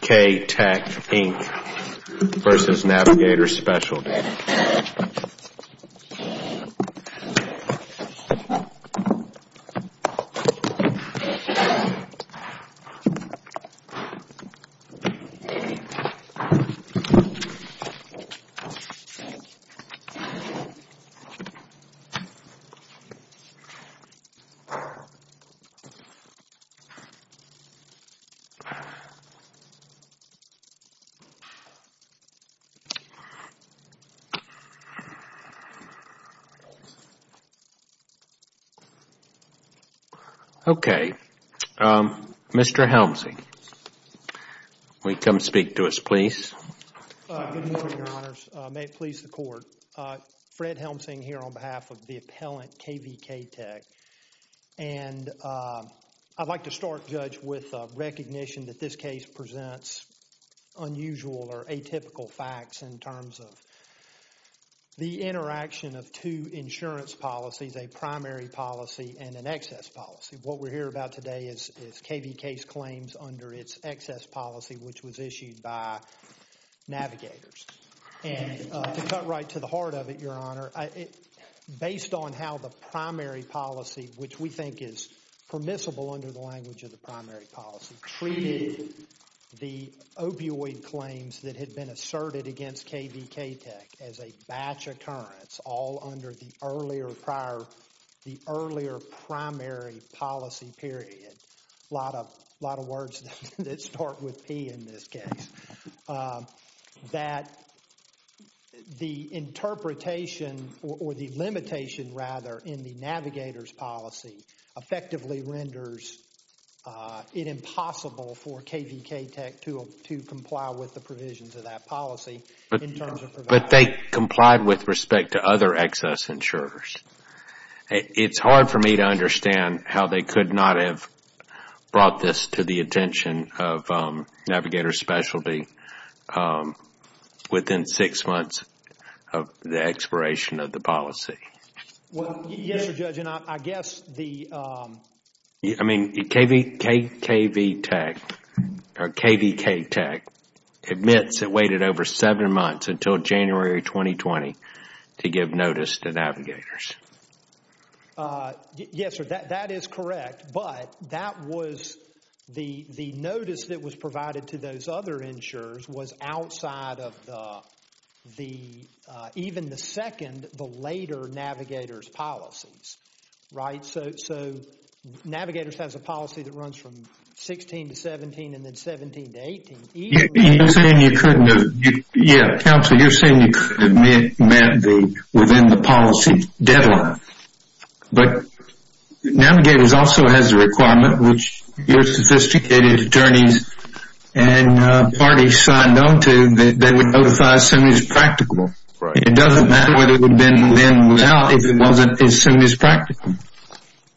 KVK-Tech, Inc. v. Navigators Specialty Okay, Mr. Helmsing, will you come speak to us please? Good morning, Your Honors. May it please the Court. Fred Helmsing here on behalf of the unusual or atypical facts in terms of the interaction of two insurance policies, a primary policy and an excess policy. What we're here about today is KVK's claims under its excess policy, which was issued by Navigators. And to cut right to the heart of it, Your Honor, based on how the primary policy, which we think is permissible under the language of the opioid claims that had been asserted against KVK-Tech as a batch occurrence all under the earlier primary policy period, a lot of words that start with P in this case, that the interpretation or the limitation rather in the Navigators policy effectively renders it impossible for KVK-Tech to comply with the provisions of that policy in terms of providing. But they complied with respect to other excess insurers. It's hard for me to understand how they could not have brought this to the attention of Navigators Specialty within six months of the expiration of the policy. Well, yes, Your Honor, I guess the... I mean, KVK-Tech admits it waited over seven months until January 2020 to give notice to Navigators. Yes, sir, that is correct. But that was the notice that was provided to those other insurers was outside of even the second, the later Navigators policies, right? So Navigators has a policy that runs from 16 to 17 and then 17 to 18. You're saying you couldn't have... Yeah, counsel, you're saying you couldn't have met within the policy deadline, but Navigators also has a requirement which your sophisticated attorneys and parties signed on to that they would notify as soon as practical. Right. It doesn't matter what it would have been then without if it wasn't as soon as practical.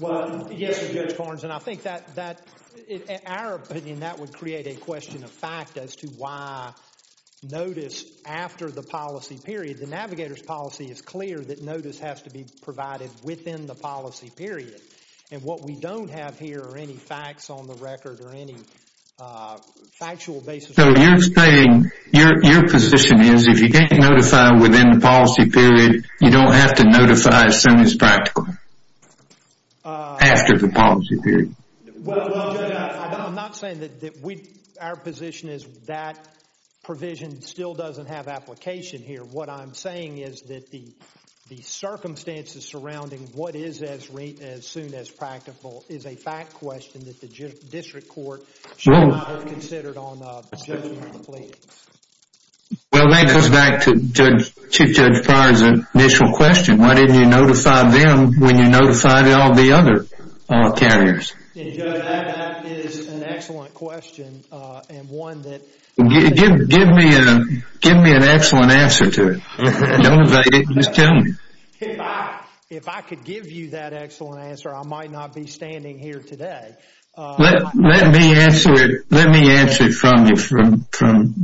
Well, yes, Judge Farns, and I think that... In our opinion, that would create a question of fact as to why notice after the policy period. The Navigators policy is clear that notice has to be provided within the policy period. And what we don't have here are any facts on the record or any factual basis. So you're saying your position is if you can't notify within the policy period, you don't have to notify as soon as practical after the policy period. Well, Judge, I'm not saying that our position is that provision still doesn't have application here. What I'm saying is that the circumstances surrounding what is as soon as practical is a fact question that the district court should not have considered on the judgment of the plea. Well, that goes back to Chief Judge Prior's initial question. Why didn't you notify them when you notified all the other carriers? And, Judge, that is an excellent question and one that... Give me an excellent answer to it. Don't evade it. Just tell me. If I could give you that excellent answer, I might not be standing here today. Let me answer it from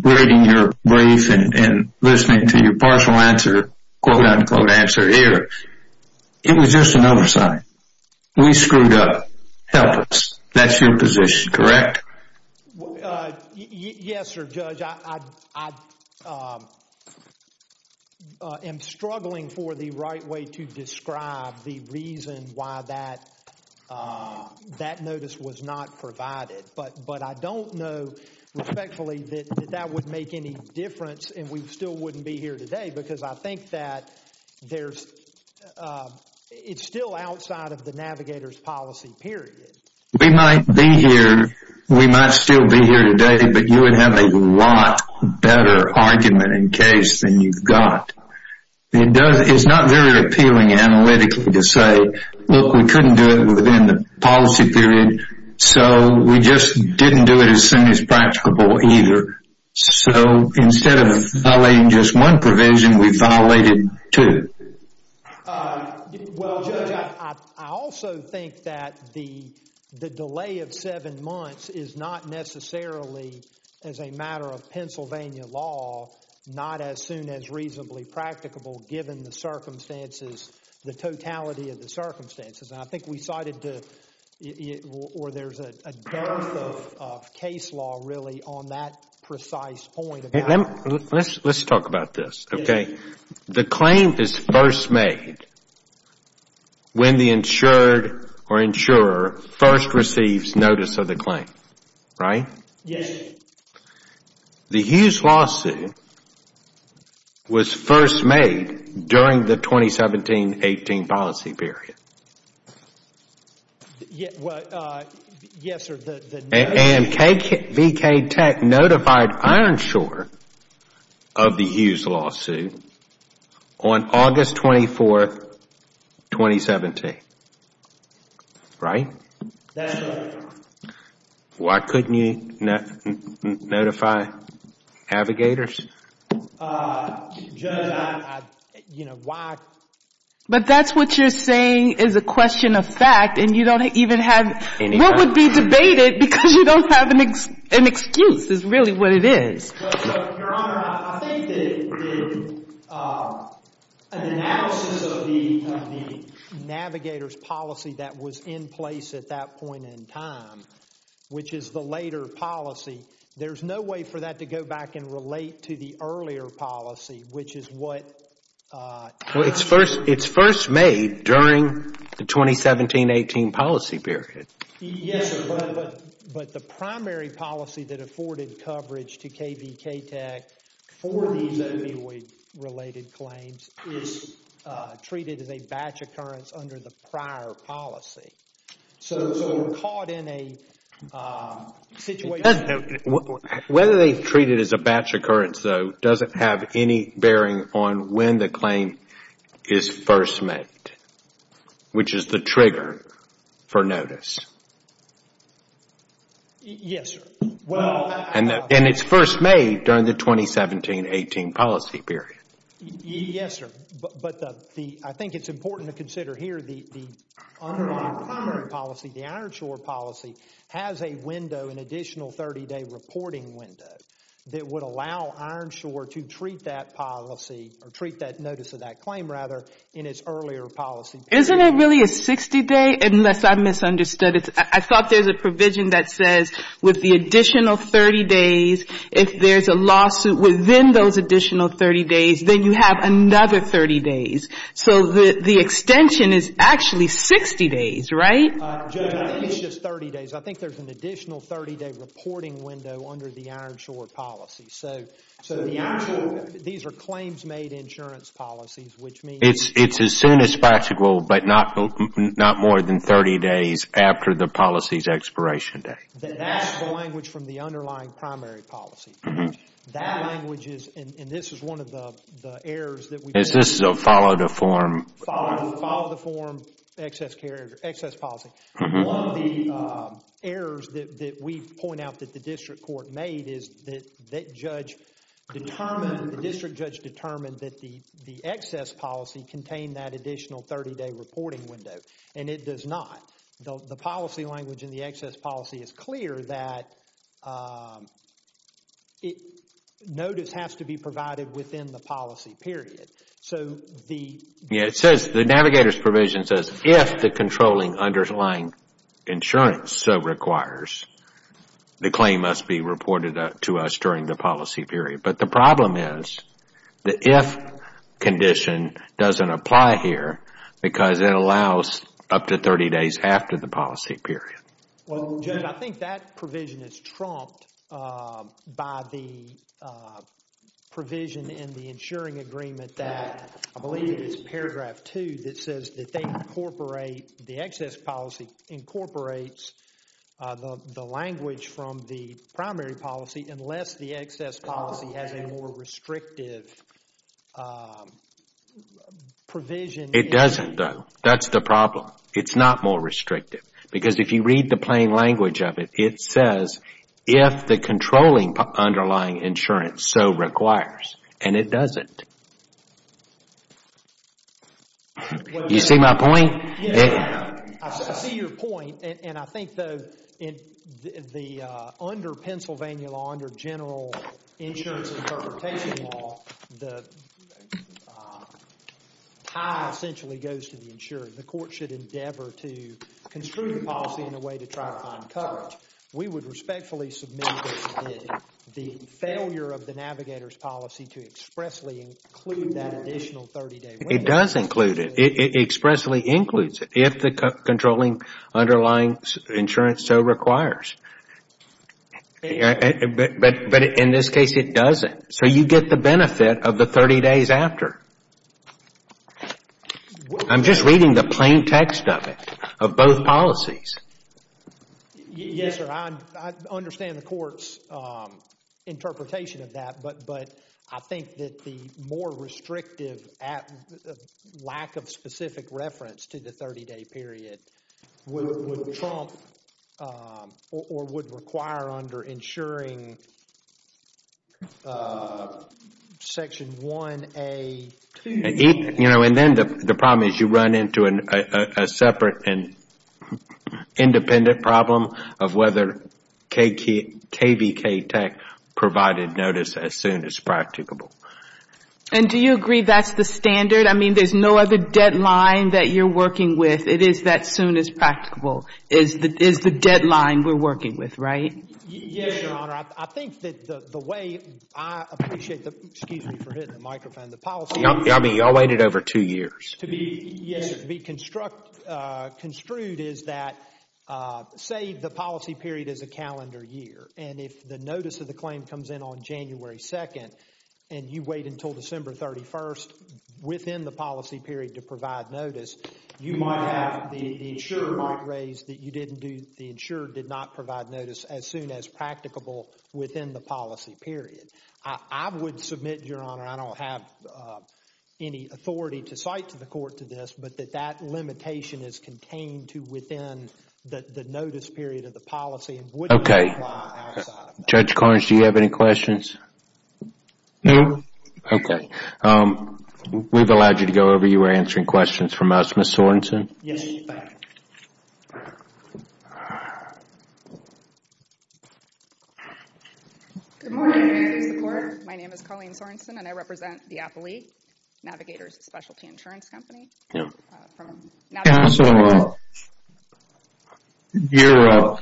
reading your brief and listening to your partial answer, quote-unquote answer here. It was just an oversight. We screwed up. Help us. That's your position, correct? Yes, Sir, Judge. I am struggling for the right way to describe the reason why that notice was not provided. But I don't know respectfully that that would make any difference and we still wouldn't be here today because I think that it's still outside of the navigator's policy period. We might be here, we might still be here today, but you would have a lot better argument in case than you've got. It's not very appealing analytically to say, look, we couldn't do it within the policy period, so we just didn't do it as soon as practicable either. So instead of violating just one provision, we violated two. Well, Judge, I also think that the delay of seven months is not necessarily, as a matter of Pennsylvania law, not as soon as reasonably practicable given the circumstances, the totality of the circumstances. And I think we cited or there's a dearth of case law really on that precise point. Let's talk about this. Okay. The claim is first made when the insured or insurer first receives notice of the claim, right? Yes. The Hughes lawsuit was first made during the 2017-18 policy period. Yes, sir. And VK Tech notified Ironshore of the Hughes lawsuit on August 24, 2017, right? That's right. Why couldn't you notify navigators? Judge, I, you know, why? But that's what you're saying is a question of fact, and you don't even have what would be debated because you don't have an excuse is really what it is. Your Honor, I think that an analysis of the navigator's policy that was in place at that point in time, which is the later policy, there's no way for that to go back and relate to the earlier policy, which is what Well, it's first made during the 2017-18 policy period. Yes, but the primary policy that afforded coverage to KBK Tech for these opioid-related claims is treated as a batch occurrence under the prior policy. So caught in a situation Whether they treat it as a batch occurrence, though, doesn't have any bearing on when the claim is first made, which is the trigger for notice. Yes, sir. And it's first made during the 2017-18 policy period. Yes, sir. But I think it's important to consider here the primary policy, the Ironshore policy, has a window, an additional 30-day reporting window that would allow Ironshore to treat that policy or treat that notice of that claim, rather, in its earlier policy period. Isn't it really a 60-day, unless I misunderstood it? I thought there's a provision that says with the additional 30 days, if there's a lawsuit within those additional 30 days, then you have another 30 days. So the extension is actually 60 days, right? It's just 30 days. I think there's an additional 30-day reporting window under the Ironshore policy. So these are claims-made insurance policies, which means It's as soon as possible, but not more than 30 days after the policy's expiration date. That's the language from the underlying primary policy. That language is, and this is one of the errors that we This is a follow-the-form Follow-the-form excess policy. One of the errors that we point out that the district court made is that the district judge determined that the excess policy contained that additional 30-day reporting window, and it does not. The policy language in the excess policy is clear that notice has to be provided within the policy period. So the Yeah, it says, the navigator's provision says, if the controlling underlying insurance so requires, the claim must be reported to us during the policy period. But the problem is, the if condition doesn't apply here, because it allows up to 30 days after the policy period. Well, Judge, I think that provision is trumped by the provision in the insuring agreement that I believe it's paragraph 2 that says that they incorporate, the excess policy incorporates the language from the primary policy unless the excess policy has a more restrictive provision. It doesn't, though. That's the problem. It's not more restrictive. Because if you read the plain language of it, it says, if the controlling underlying insurance so requires. And it doesn't. You see my point? I see your point. And I think, though, in the under Pennsylvania law, under general insurance interpretation law, the tie essentially goes to the insurer. The court should endeavor to construe the policy in a way to try to find coverage. We would respectfully submit that the failure of the navigator's policy to expressly include that additional 30-day. It does include it. It expressly includes it. If the controlling underlying insurance so requires. But in this case, it doesn't. So you get the benefit of the 30 days after. I'm just reading the plain text of it, of both policies. Yes, sir. I understand the court's interpretation of that. But I think that the more restrictive lack of specific reference to the 30-day period would trump or would require under insuring section 1A. You know, and then the problem is you run into a separate and independent problem of whether KVK tech provided notice as soon as practicable. And do you agree that's the standard? I mean, there's no other deadline that you're working with. It is that soon as practicable is the deadline we're working with, right? Yes, Your Honor. I think that the way I appreciate the, excuse me for hitting the microphone, the policy. I mean, you all waited over two years. Yes, to be construed is that say the policy period is a calendar year. And if the notice of the claim comes in on January 2nd and you wait until December 31st within the policy period to provide notice, you might have, the insurer might raise that you didn't do, the insurer did not provide notice as soon as practicable within the policy period. I would submit, Your Honor, I don't have any authority to cite to the court to this, but that that limitation is contained to within the notice period of the policy and wouldn't apply outside of that. Okay. Judge Cornish, do you have any questions? No. Okay. We've allowed you to go over. You were answering questions from us. Ms. Sorensen? Yes. Good morning. My name is Colleen Sorensen, and I represent the appellate navigators specialty insurance company. Counsel, your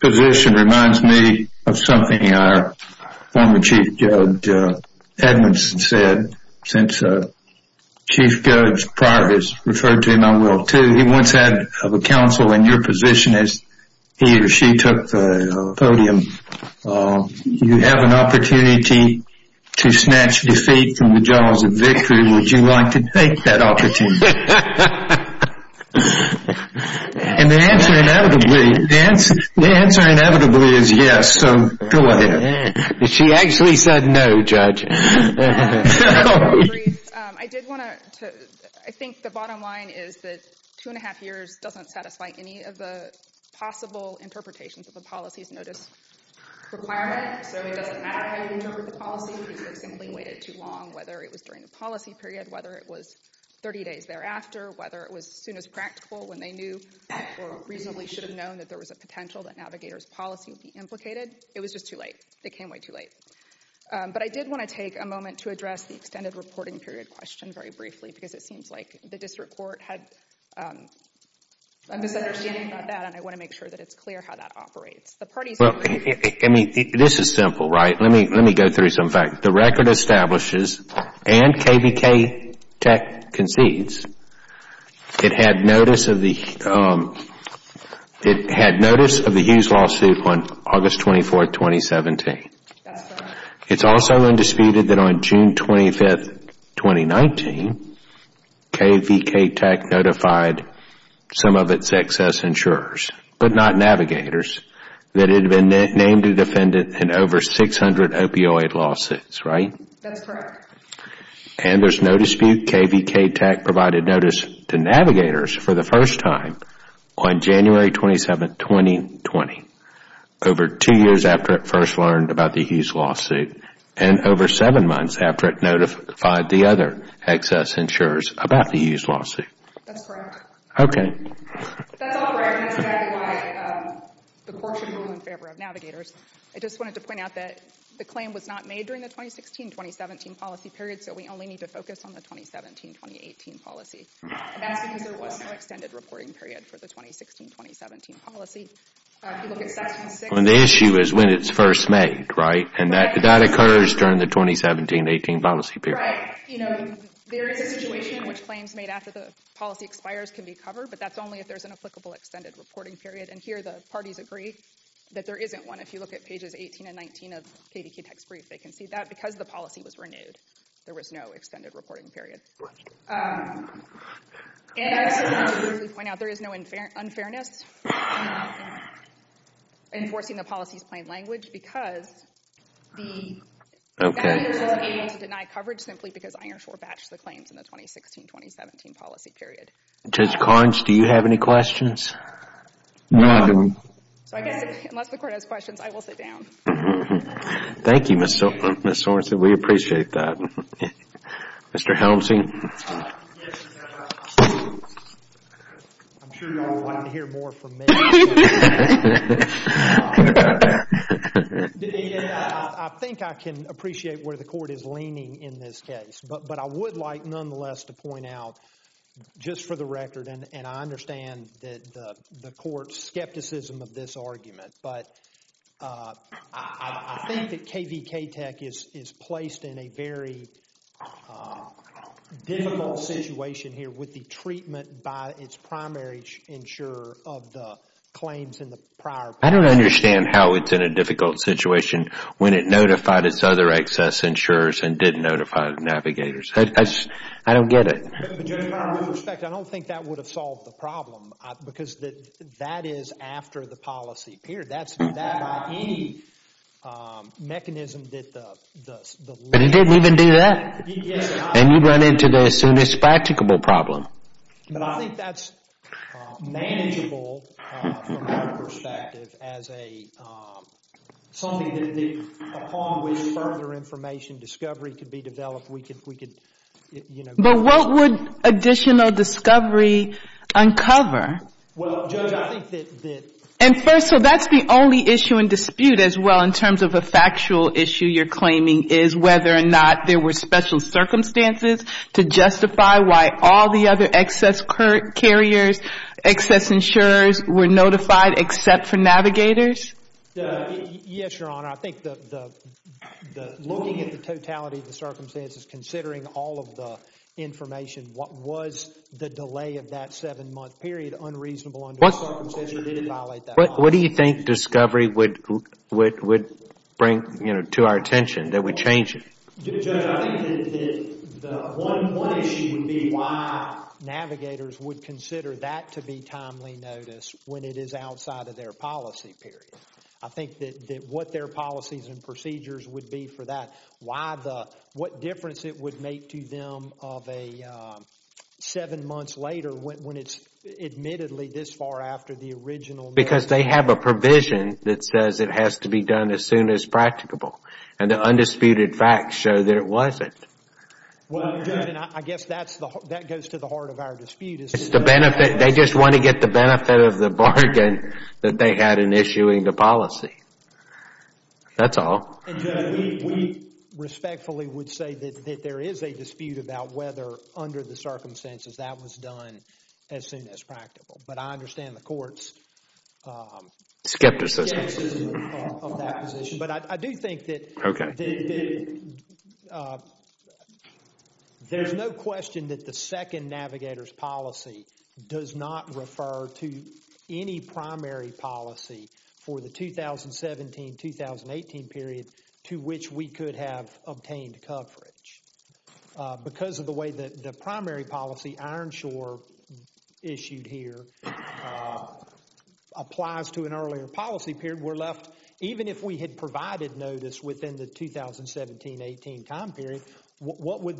position reminds me of something our former Chief Judge Edmondson said. Since Chief Judge Prior has referred to him, I will too. He once said of a counsel in your position as he or she took the podium, you have an opportunity to snatch defeat from the jaws of victory. Would you like to take that opportunity? And the answer inevitably is yes, so go ahead. She actually said no, Judge. I did want to, I think the bottom line is that two and a half years doesn't satisfy any of the possible interpretations of a policy's notice. Requirement, so it doesn't matter how you interpret the policy. People simply waited too long, whether it was during the policy period, whether it was 30 days thereafter, whether it was soon as practical when they knew or reasonably should have known that there was a potential that navigator's policy would be implicated. It was just too late. It came way too late. But I did want to take a moment to address the extended reporting period question very briefly, because it seems like the district court had a misunderstanding about that, and I want to make sure that it's clear how that operates. I mean, this is simple, right? Let me go through some facts. The record establishes and KVK Tech concedes it had notice of the huge lawsuit on August 24th, 2017. It's also undisputed that on June 25th, 2019, KVK Tech notified some of its excess insurers, but not navigators, that it had been named a defendant in over 600 opioid lawsuits, right? That's correct. And there's no dispute KVK Tech provided notice to navigators for the first time on January 27th, 2020, over two years after it first learned about the huge lawsuit, and over seven months after it notified the other excess insurers about the huge lawsuit. That's correct. Okay. That's all right. That's exactly why the court should move in favor of navigators. I just wanted to point out that the claim was not made during the 2016-2017 policy period, so we only need to focus on the 2017-2018 policy. And that's because there was no extended reporting period for the 2016-2017 policy. If you look at Section 6. The issue is when it's first made, right? And that occurs during the 2017-18 policy period. Right. You know, there is a situation in which claims made after the policy expires can be covered, but that's only if there's an applicable extended reporting period. And here the parties agree that there isn't one. If you look at pages 18 and 19 of KVK Tech's brief, they can see that. Because the policy was renewed, there was no extended reporting period. And I just wanted to really point out there is no unfairness in enforcing the policy's plain language because the navigators were able to deny coverage simply because Ironshore batched the claims in the 2016-2017 policy period. Judge Carnes, do you have any questions? No. So I guess, unless the court has questions, I will sit down. Thank you, Ms. Sorensen. We appreciate that. Mr. Helmsi? Yes. I'm sure you all wanted to hear more from me. I think I can appreciate where the court is leaning in this case. But I would like nonetheless to point out, just for the record, and I understand the court's skepticism of this argument, but I think that KVK Tech is placed in a very difficult situation here with the treatment by its primary insurer of the claims in the prior policy. I don't understand how it's in a difficult situation when it notified its other excess insurers and didn't notify the navigators. I don't get it. Judge Carnes, with respect, I don't think that would have solved the problem because that is after the policy period. That's not by any mechanism that the legislature But it didn't even do that. And you run into the soonest practicable problem. But I think that's manageable from our perspective as something upon which further information discovery could be developed. But what would additional discovery uncover? Well, Judge, I think that... And first, so that's the only issue in dispute as well in terms of a factual issue you're claiming is whether or not there were special circumstances to justify why all the other excess carriers, excess insurers were notified except for navigators? Yes, Your Honor. I think that looking at the totality of the circumstances, considering all of the information, what was the delay of that seven-month period unreasonable under the circumstances didn't violate that policy. What do you think discovery would bring to our attention that we change it? Judge, I think that the one issue would be why navigators would consider that to be timely notice when it is outside of their policy period. I think that what their policies and procedures would be for that, what difference it would make to them of a seven months later when it's admittedly this far after the original... Because they have a provision that says it has to be done as soon as practicable. And the undisputed facts show that it wasn't. Well, Judge, I guess that goes to the heart of our dispute. It's the benefit. They just want to get the benefit of the bargain that they had in issuing the policy. That's all. And Judge, we respectfully would say that there is a dispute about whether under the circumstances that was done as soon as practicable. But I understand the court's... Skepticism. Skepticism of that position. But I do think that there's no question that the second navigator's policy does not refer to any primary policy for the 2017-2018 period to which we could have obtained coverage. Because of the way that the primary policy, Ironshore issued here, applies to an earlier policy period, we're left... Even if we had provided notice within the 2017-18 time period, what would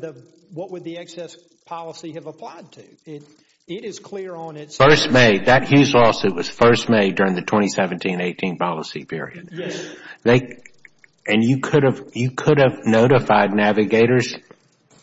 the excess policy have applied to? It is clear on its... First made. That Hughes lawsuit was first made during the 2017-18 policy period. Yes. And you could have notified navigators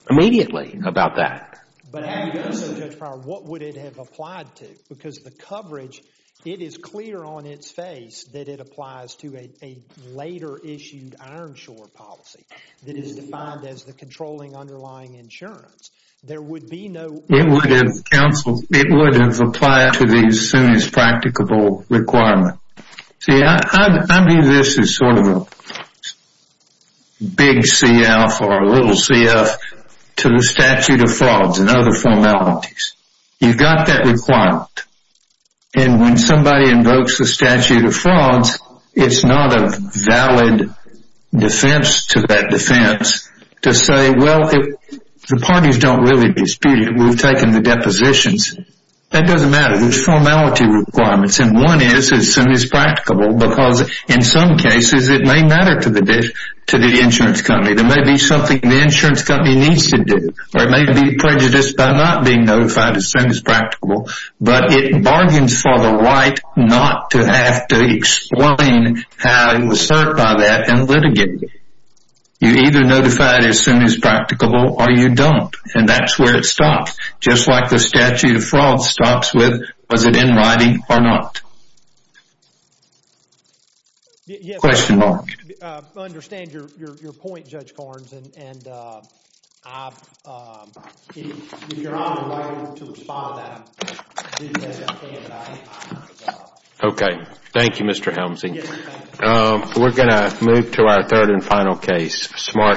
immediately about that. But how do you know, Judge Pryor, what would it have applied to? Because the coverage, it is clear on its face that it applies to a later issued Ironshore policy that is defined as the controlling underlying insurance. There would be no... It would have applied to the soonest practicable requirement. See, I view this as sort of a big CF or a little CF to the statute of frauds and other formalities. You've got that requirement. And when somebody invokes the statute of frauds, it's not a valid defense to that defense to say, well, the parties don't really dispute it. We've taken the depositions. That doesn't matter. There's formality requirements. And one is as soon as practicable because in some cases it may matter to the insurance company. There may be something the insurance company needs to do or it may be prejudiced by not being notified as soon as practicable. But it bargains for the right not to have to explain how it was served by that and litigate it. You either notify it as soon as practicable or you don't. And that's where it stops. Just like the statute of frauds stops with was it in writing or not. Question mark. I understand your point, Judge Corns. And I've been honored to respond to that. Okay. Thank you, Mr. Helmsing. We're going to move to our third and final case.